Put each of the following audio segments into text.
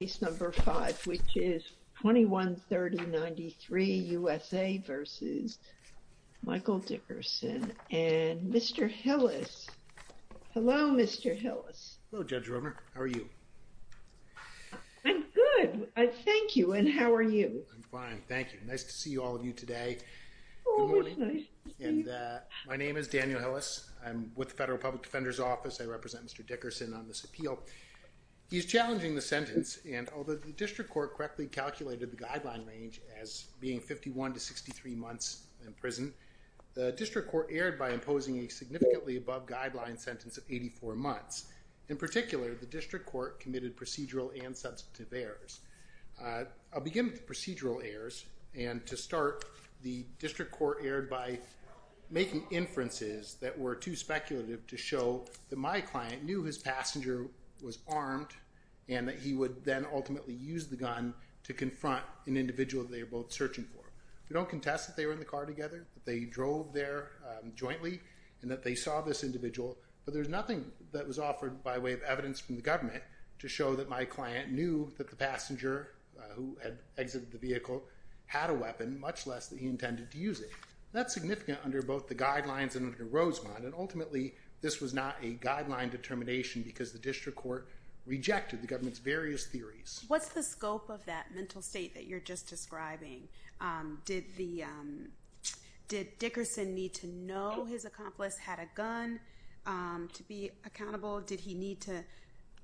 Case number 5, which is 213093 USA v. Michael Dickerson. And Mr. Hillis. Hello, Mr. Hillis. Hello, Judge Romer. How are you? I'm good. Thank you. And how are you? I'm fine. Thank you. Nice to see all of you today. Good morning. My name is Daniel Hillis. I'm with the Federal Public Defender's Office. I represent Mr. Dickerson on this appeal. He's challenging the sentence. And although the district court correctly calculated the guideline range as being 51 to 63 months in prison, the district court erred by imposing a significantly above guideline sentence of 84 months. In particular, the district court committed procedural and substantive errors. I'll begin with the procedural errors. And to start, the district court erred by making inferences that were too speculative to show that my client knew his passenger was armed and that he would then ultimately use the gun to confront an individual they were both searching for. We don't contest that they were in the car together, that they drove there jointly, and that they saw this individual. But there's nothing that was offered by way of evidence from the government to show that my client knew that the passenger who had exited the vehicle had a weapon, much less that he intended to use it. That's significant under both the guidelines and ultimately, this was not a guideline determination because the district court rejected the government's various theories. What's the scope of that mental state that you're just describing? Did Dickerson need to know his accomplice had a gun to be accountable? Did he need to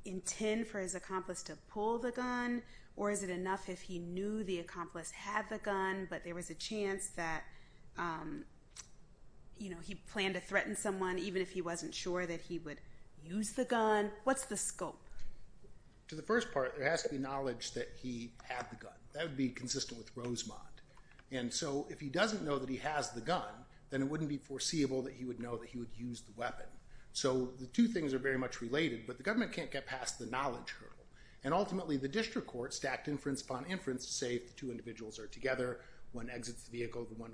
intend for his accomplice to pull the gun? Or is it enough if he planned to threaten someone even if he wasn't sure that he would use the gun? What's the scope? To the first part, there has to be knowledge that he had the gun. That would be consistent with Rosemont. And so if he doesn't know that he has the gun, then it wouldn't be foreseeable that he would know that he would use the weapon. So the two things are very much related, but the government can't get past the knowledge hurdle. And ultimately, the district court stacked inference upon inference to say if the two individuals are together, one exits the vehicle, the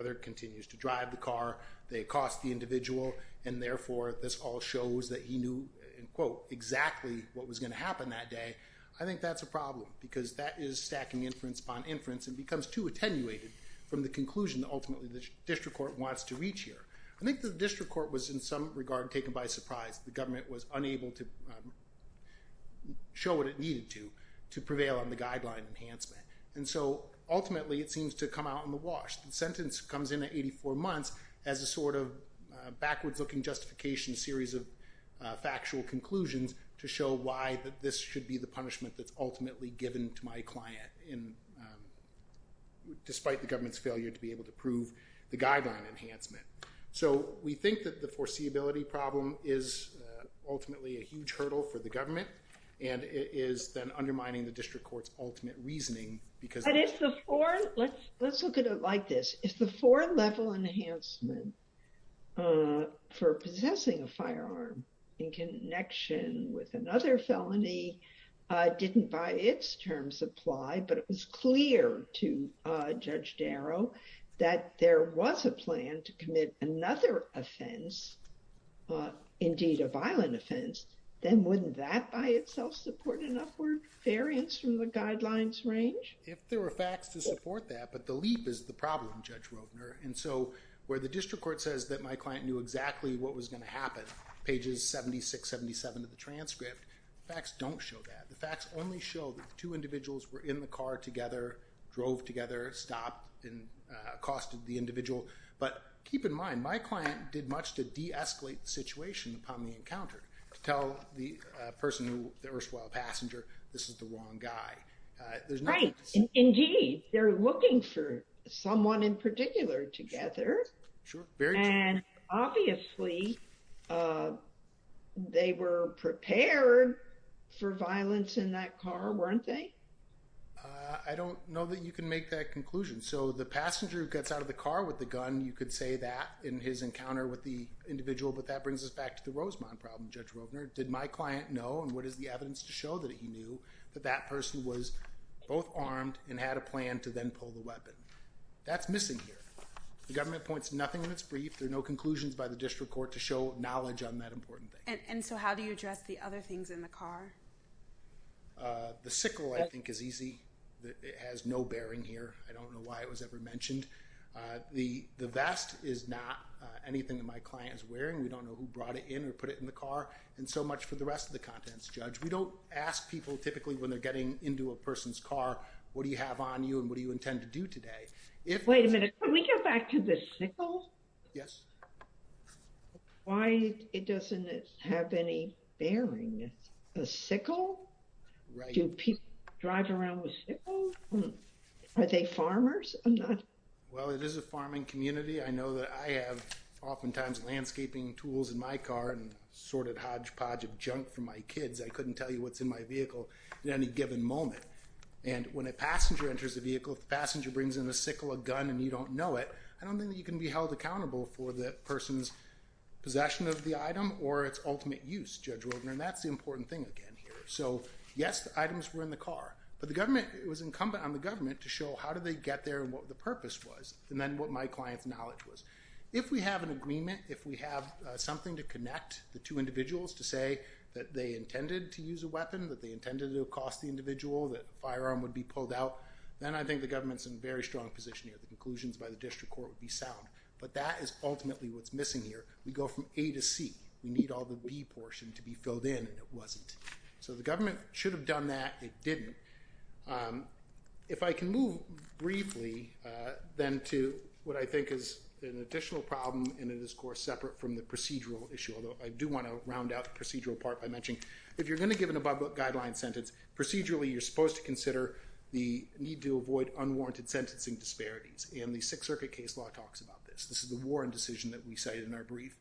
other continues to drive the car, they cost the individual, and therefore this all shows that he knew, in quote, exactly what was going to happen that day. I think that's a problem because that is stacking inference upon inference and becomes too attenuated from the conclusion that ultimately the district court wants to reach here. I think the district court was in some regard taken by surprise. The government was unable to show what it needed to to prevail on the guideline enhancement. And so ultimately, it seems to come out in the wash. The sentence comes in at 84 months as a sort of backwards looking justification series of factual conclusions to show why that this should be the punishment that's ultimately given to my client despite the government's failure to be able to prove the guideline enhancement. So we think that the foreseeability problem is ultimately a huge hurdle for the government, and it is then undermining the because- But if the four, let's look at it like this. If the four level enhancement for possessing a firearm in connection with another felony didn't by its terms apply, but it was clear to Judge Darrow that there was a plan to commit another offense, indeed a violent offense, then wouldn't that by itself support an upward variance from the guidelines range? If there were facts to support that, but the leap is the problem, Judge Rodner. And so where the district court says that my client knew exactly what was going to happen, pages 76, 77 of the transcript, facts don't show that. The facts only show that the two individuals were in the car together, drove together, stopped, and accosted the individual. But keep in mind, my client did de-escalate the situation upon the encounter to tell the person who, the erstwhile passenger, this is the wrong guy. There's nothing- Right. Indeed. They're looking for someone in particular together. Sure. Very true. And obviously they were prepared for violence in that car, weren't they? I don't know that you can make that conclusion. So the passenger who gets out of the car with a gun, you could say that in his encounter with the individual, but that brings us back to the Rosemont problem, Judge Rodner. Did my client know and what is the evidence to show that he knew that that person was both armed and had a plan to then pull the weapon? That's missing here. The government points to nothing that's brief. There are no conclusions by the district court to show knowledge on that important thing. And so how do you address the other things in the car? The sickle, I think, is easy. It has no bearing here. I don't know why it was ever mentioned. The vest is not anything that my client is wearing. We don't know who brought it in or put it in the car. And so much for the rest of the contents, Judge. We don't ask people typically when they're getting into a person's car, what do you have on you and what do you intend to do today? Wait a minute. Can we go back to the sickle? Yes. Why it doesn't have any bearing. A sickle? Right. Do people drive around with sickles? Are they farmers? Well, it is a farming community. I know that I have oftentimes landscaping tools in my car and sorted hodgepodge of junk for my kids. I couldn't tell you what's in my vehicle at any given moment. And when a passenger enters the vehicle, if the passenger brings in a sickle, a gun, and you don't know it, I don't think that you can be held accountable for the person's possession of the item or its ultimate use, Judge Wildner. And that's the important thing again here. So yes, the items were in the car. But the government, it was incumbent on the government to how do they get there and what the purpose was, and then what my client's knowledge was. If we have an agreement, if we have something to connect the two individuals to say that they intended to use a weapon, that they intended to cost the individual, that firearm would be pulled out, then I think the government's in a very strong position here. The conclusions by the district court would be sound. But that is ultimately what's missing here. We go from A to C. We need all the B portion to be filled in and it wasn't. So the government should have done that. It didn't. If I can move briefly then to what I think is an additional problem in this course separate from the procedural issue, although I do want to round out the procedural part by mentioning, if you're going to give an above-book guideline sentence, procedurally, you're supposed to consider the need to avoid unwarranted sentencing disparities. And the Sixth Circuit case law talks about this. This is the Warren decision that we cited in our brief.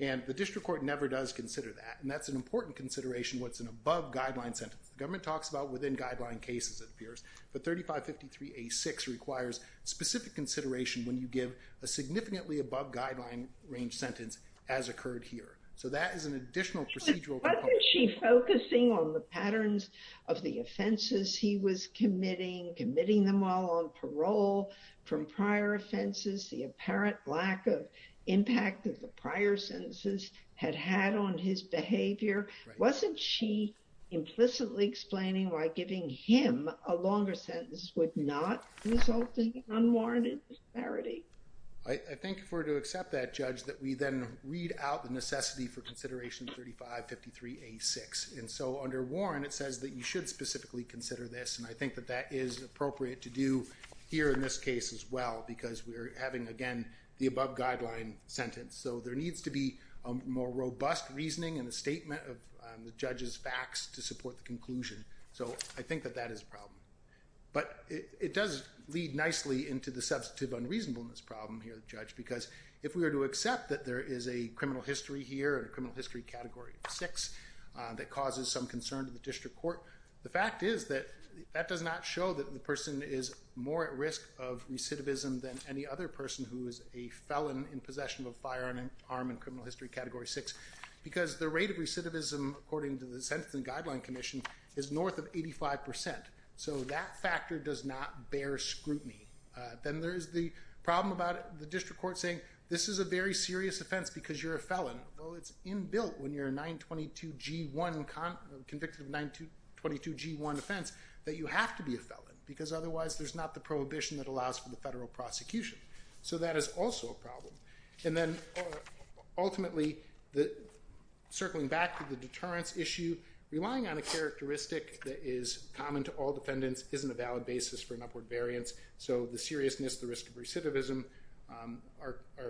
And the district court never does consider that. And that's an important consideration, what's an above-guideline sentence. The government talks about within-guideline cases, it appears. But 3553A6 requires specific consideration when you give a significantly above-guideline range sentence, as occurred here. So that is an additional procedural... But wasn't she focusing on the patterns of the offenses he was committing, committing them all on parole from prior offenses, the apparent lack of impact that the prior sentences had had on his behavior? Wasn't she implicitly explaining why giving him a longer sentence would not result in unwarranted disparity? I think if we're to accept that, Judge, that we then read out the necessity for consideration of 3553A6. And so under Warren, it says that you should specifically consider this. And I think that that is appropriate to do here in this case as well, because we're having, again, the above-guideline sentence. So there needs to be a more robust reasoning and a statement of the judge's facts to support the conclusion. So I think that that is a problem. But it does lead nicely into the substantive unreasonableness problem here, Judge, because if we were to accept that there is a criminal history here, a criminal history Category 6 that causes some concern to the district court, the fact is that that does not show that the person is more at risk of recidivism than any other person who is a felon in possession of a firearm in criminal history Category 6, because the rate of recidivism, according to the Sentencing Guideline Commission, is north of 85%. So that factor does not bear scrutiny. Then there is the problem about the district court saying, this is a very serious offense because you're a felon. Well, it's in built when you're a 922G1, convicted of 922G1 offense, that you have to be a felon, because there's not the prohibition that allows for the federal prosecution. So that is also a problem. And then ultimately, circling back to the deterrence issue, relying on a characteristic that is common to all defendants isn't a valid basis for an upward variance. So the seriousness, the risk of recidivism are a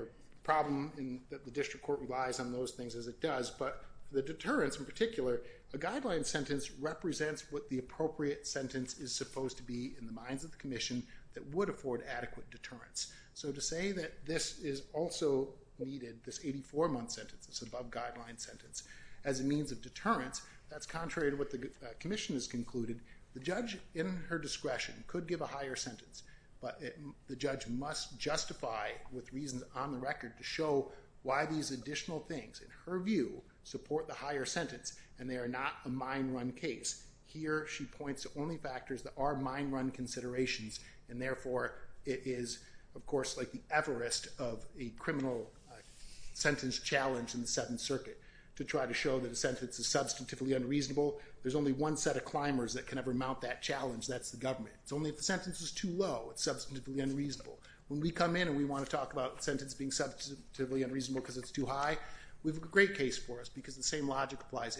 problem that the district court relies on those things as it does. But the deterrence in particular, a guideline sentence represents what the appropriate sentence is supposed to be in the minds of the commission that would afford adequate deterrence. So to say that this is also needed, this 84 month sentence, this above guideline sentence, as a means of deterrence, that's contrary to what the commission has concluded. The judge in her discretion could give a higher sentence, but the judge must justify with reasons on the record to show why these additional things, in her view, support the higher sentence, and they are not a mine run case. Here she points to only factors that are mine run considerations, and therefore it is, of course, like the Everest of a criminal sentence challenge in the Seventh Circuit, to try to show that a sentence is substantively unreasonable. There's only one set of climbers that can ever mount that challenge, that's the government. It's only if the sentence is too low, it's substantively unreasonable. When we come in and we want to talk about the sentence being substantively unreasonable because it's too high, we have a great case for us, because the same case applies.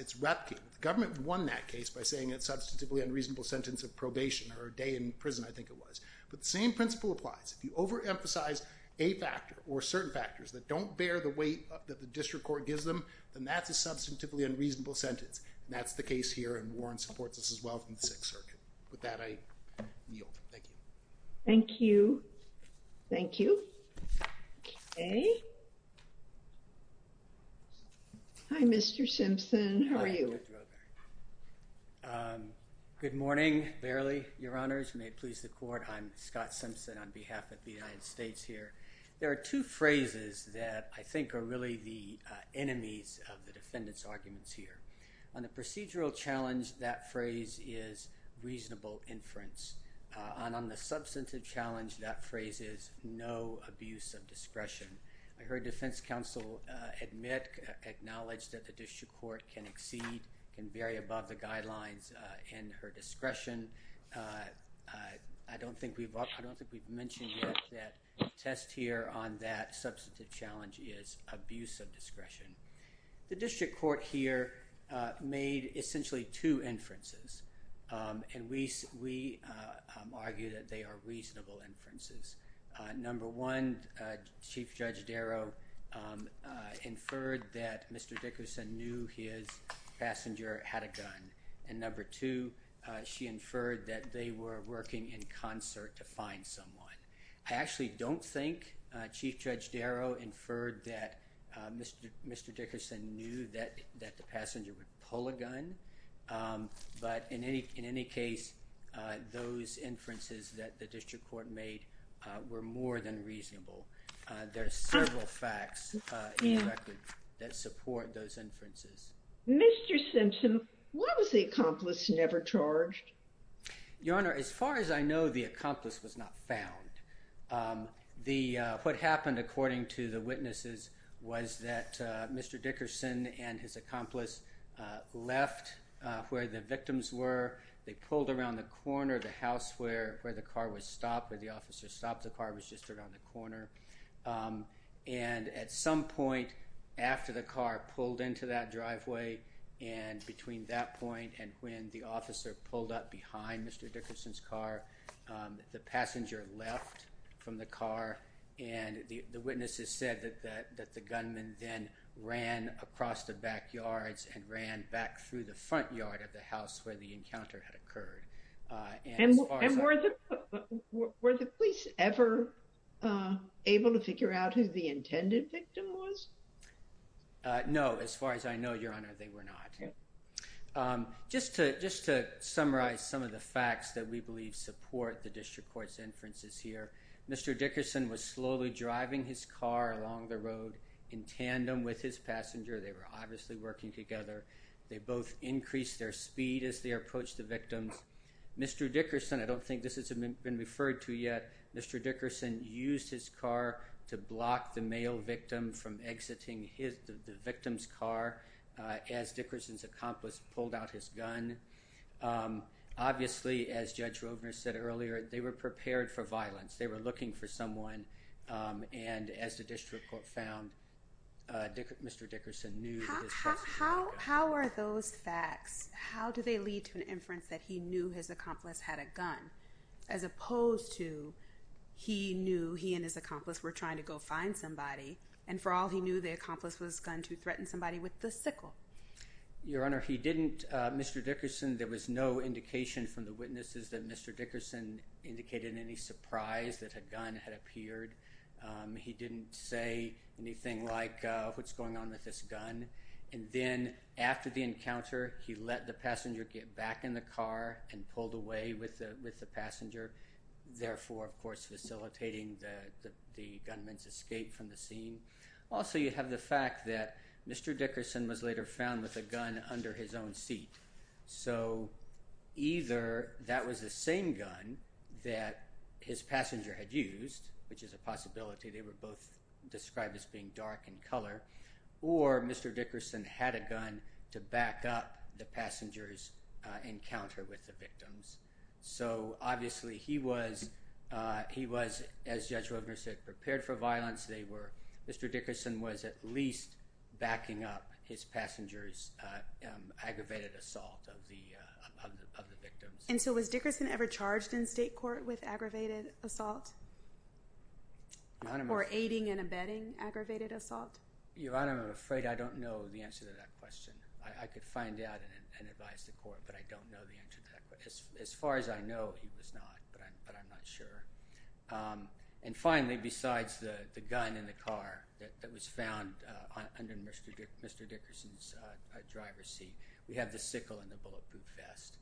If you overemphasize a factor or certain factors that don't bear the weight that the district court gives them, then that's a substantively unreasonable sentence, and that's the case here, and Warren supports this as well from the Sixth Circuit. With that, I yield. Thank you. Thank you. Thank you. Okay. Hi, Mr. Simpson. How are you? Good morning, Barley. Your Honors, may it please the court, I'm Scott Simpson on behalf of the United States here. There are two phrases that I think are really the enemies of the defendant's inference. On the substantive challenge, that phrase is no abuse of discretion. I heard defense counsel admit, acknowledge that the district court can exceed, can vary above the guidelines in her discretion. I don't think we've mentioned yet that test here on that substantive challenge is abuse of discretion. The district court here made essentially two inferences, and we argue that they are reasonable inferences. Number one, Chief Judge Darrow inferred that Mr. Dickerson knew his passenger had a gun, and number two, she inferred that they were working in concert to find someone. I actually don't think Chief Judge Darrow inferred that Mr. Dickerson knew that the passenger would pull a gun, but in any case, those inferences that the district court made were more than reasonable. There are several facts that support those inferences. Mr. Simpson, why was the accomplice never charged? Your Honor, as far as I know, the accomplice was not found. What happened, according to the witnesses, was that Mr. Dickerson and his accomplice left where the victims were. They pulled around the corner of the house where the car was stopped, where the officer stopped. The car was just around the corner, and at some point after the car pulled into that driveway, and between that point and when the officer pulled up behind Mr. Dickerson's car, the passenger left from the car, and the witnesses said that the gunman then ran across the backyards and ran back through the front yard of the house where the encounter had occurred. And were the police ever able to figure out who the intended victim was? No, as far as I know, Your Honor, they were not. Just to summarize some of the facts that we believe support the district court's inferences here, Mr. Dickerson was slowly driving his car along the road in tandem with his passenger. They were obviously working together. They both increased their speed as they approached the victims. Mr. Dickerson, I don't think this has the victim's car as Dickerson's accomplice pulled out his gun. Obviously, as Judge Rovner said earlier, they were prepared for violence. They were looking for someone, and as the district court found, Mr. Dickerson knew that his... How are those facts, how do they lead to an inference that he knew his accomplice had a gun as opposed to he knew he and his accomplice were trying to find somebody, and for all he knew, the accomplice was going to threaten somebody with the sickle? Your Honor, he didn't. Mr. Dickerson, there was no indication from the witnesses that Mr. Dickerson indicated any surprise that a gun had appeared. He didn't say anything like, what's going on with this gun? And then after the encounter, he let the passenger get back in the escape from the scene. Also, you have the fact that Mr. Dickerson was later found with a gun under his own seat. So either that was the same gun that his passenger had used, which is a possibility. They were both described as being dark in color, or Mr. Dickerson had a gun to back up the passenger's encounter with the victims. So obviously, he was, as Judge Rovner said, prepared for violence. Mr. Dickerson was at least backing up his passenger's aggravated assault of the victims. And so was Dickerson ever charged in state court with aggravated assault? Or aiding and abetting aggravated assault? Your Honor, I'm afraid I don't know the answer to that question. I could find out and advise the court, but I don't know the answer to that question. As far as I know, he was not, but I'm not sure. And finally, besides the gun in the car that was found under Mr. Dickerson's driver's seat, we have the sickle and the bulletproof vest.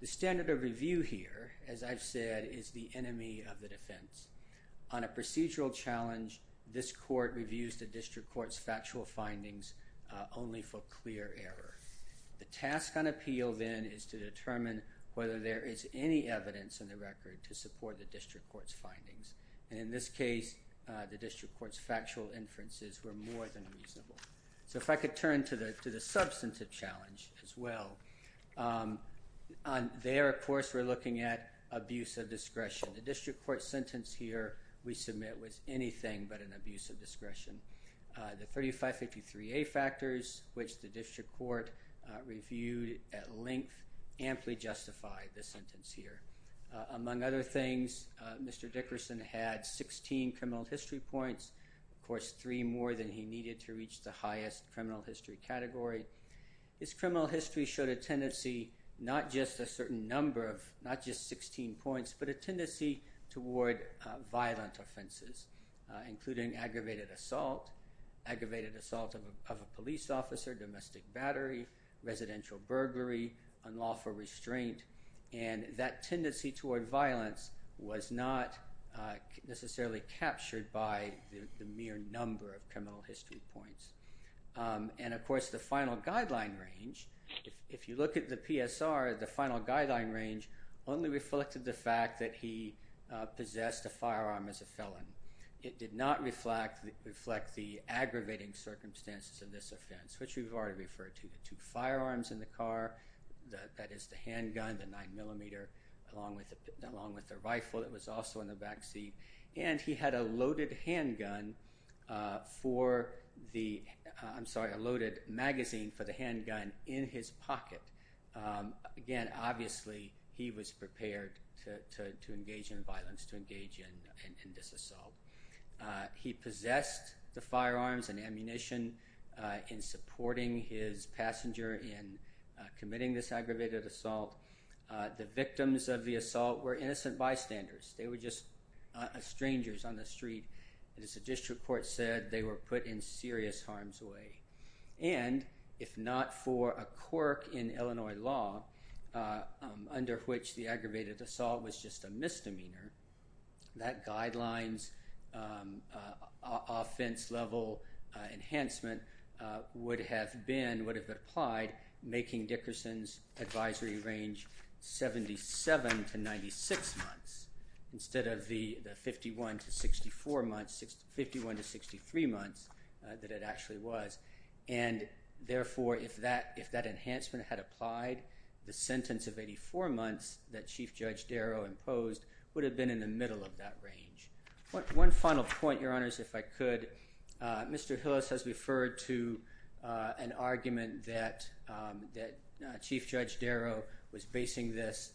The standard of review here, as I've said, is the enemy of the defense. On a procedural challenge, this court reviews the district court's factual findings only for clear error. The task on appeal, then, is to determine whether there is any evidence in the record to support the district court's findings. And in this case, the district court's factual inferences were more than reasonable. So if I could turn to the substantive challenge as well. There, of course, we're looking at abuse of discretion. The district court sentence here we submit was anything but an abuse of discretion. The district court reviewed at length, amply justified the sentence here. Among other things, Mr. Dickerson had 16 criminal history points. Of course, three more than he needed to reach the highest criminal history category. His criminal history showed a tendency, not just a certain number of, not just 16 points, but a tendency toward violent offenses, including aggravated assault, aggravated assault of a police officer, domestic battery, residential burglary, unlawful restraint. And that tendency toward violence was not necessarily captured by the mere number of criminal history points. And of course, the final guideline range, if you look at the PSR, the final guideline range only reflected the fact that he possessed a firearm as a felon. It did not reflect the aggravating circumstances of this offense, which we've already referred to. The two firearms in the car, that is the handgun, the nine millimeter, along with the rifle that was also in the back seat. And he had a loaded handgun for the, I'm sorry, a loaded magazine for the handgun in his pocket. Again, obviously, he was prepared to engage in violence, to engage in this assault. He possessed the firearms and ammunition in supporting his passenger in committing this aggravated assault. The victims of the assault were innocent bystanders. They were just strangers on the street. And as the district court said, they were put in serious harms way. And if not for a quirk in Illinois law, under which the aggravated assault was just a misdemeanor, that guidelines offense level enhancement would have been, would have applied making Dickerson's advisory range 77 to 96 months instead of the 51 to 64 months, 51 to 63 months that it actually was. And the sentence of 84 months that chief judge Darrow imposed would have been in the middle of that range. One final point, your honors, if I could, Mr. Hillis has referred to an argument that chief judge Darrow was basing this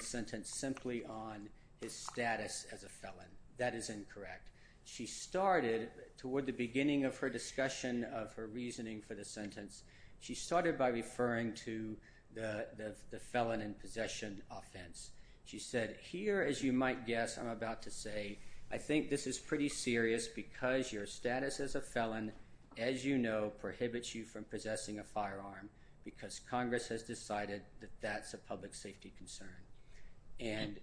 sentence simply on his status as a felon. That is incorrect. She started toward the beginning of her discussion of her reasoning for the sentence, she started by referring to the felon in possession offense. She said, here, as you might guess, I'm about to say, I think this is pretty serious because your status as a felon, as you know, prohibits you from possessing a firearm because Congress has decided that that's a public safety concern. And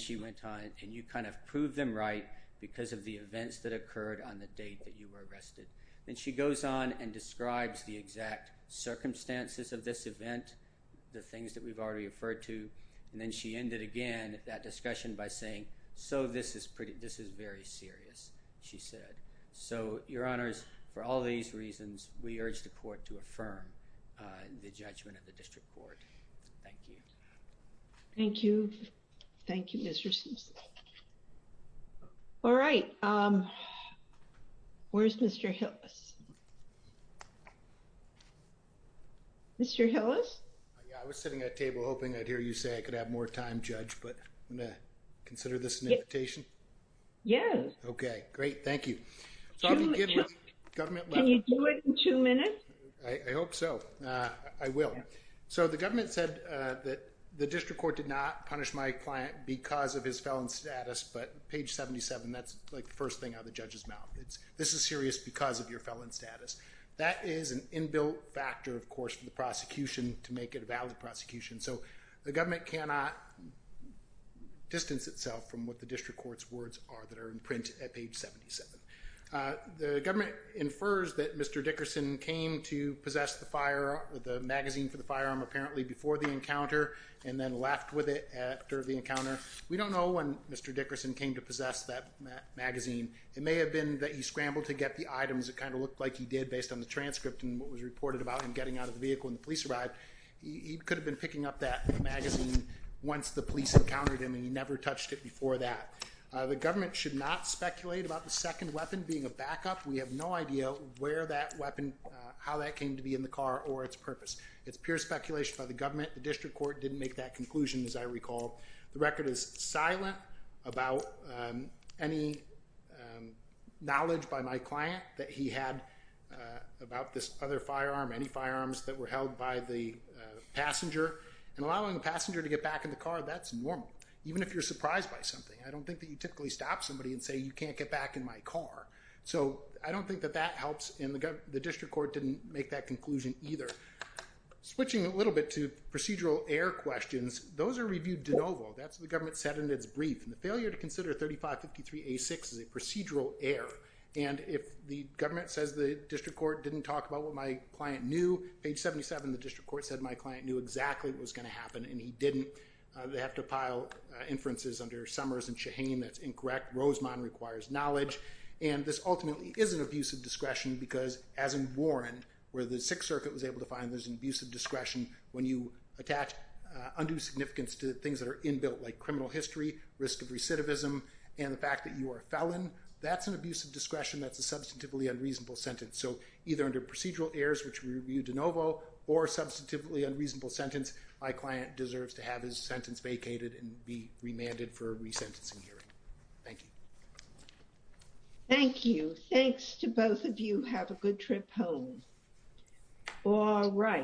she went on, and you kind of proved them right because of the events that circumstances of this event, the things that we've already referred to. And then she ended again that discussion by saying, so this is pretty, this is very serious. She said, so your honors, for all these reasons, we urge the court to affirm the judgment of the district court. Thank you. Thank you. Thank you, Mr. Simpson. All right. Where's Mr. Hillis? Mr. Hillis? Yeah, I was sitting at table hoping I'd hear you say I could have more time judge, but I'm going to consider this an invitation. Yes. Okay, great. Thank you. Can you do it in two minutes? I hope so. I will. So the government said that the district court did not punish my client because of his felon status, but page 77, that's like the first thing the judge is mouthing. This is serious because of your felon status. That is an inbuilt factor, of course, for the prosecution to make it a valid prosecution. So the government cannot distance itself from what the district court's words are that are in print at page 77. The government infers that Mr. Dickerson came to possess the magazine for the firearm apparently before the encounter and then left with it after the encounter. We don't know when Mr. Dickerson came to possess that magazine. It may have been that he scrambled to get the items that kind of looked like he did based on the transcript and what was reported about him getting out of the vehicle when the police arrived. He could have been picking up that magazine once the police encountered him and he never touched it before that. The government should not speculate about the second weapon being a backup. We have no idea where that weapon, how that came to be in the car or its purpose. It's pure speculation by the government. The district court didn't make that any knowledge by my client that he had about this other firearm, any firearms that were held by the passenger. And allowing the passenger to get back in the car, that's normal. Even if you're surprised by something. I don't think that you typically stop somebody and say you can't get back in my car. So I don't think that that helps and the district court didn't make that conclusion either. Switching a little bit to procedural error questions, those are reviewed de novo. That's what the government said in its brief. And the failure to consider 3553A6 is a procedural error. And if the government says the district court didn't talk about what my client knew, page 77 the district court said my client knew exactly what was going to happen and he didn't. They have to pile inferences under Summers and Shaheen that's incorrect. Rosemond requires knowledge. And this ultimately is an abuse of discretion because as in Warren, where the Sixth Circuit was able to find there's an abuse of discretion when you attach undue significance to things that are inbuilt like criminal history, risk of recidivism, and the fact that you are a felon. That's an abuse of discretion. That's a substantively unreasonable sentence. So either under procedural errors, which we reviewed de novo, or substantively unreasonable sentence, my client deserves to have his sentence vacated and be remanded for a resentencing hearing. Thank you. Thank you. Thanks to both of you. Have a good trip home. All right.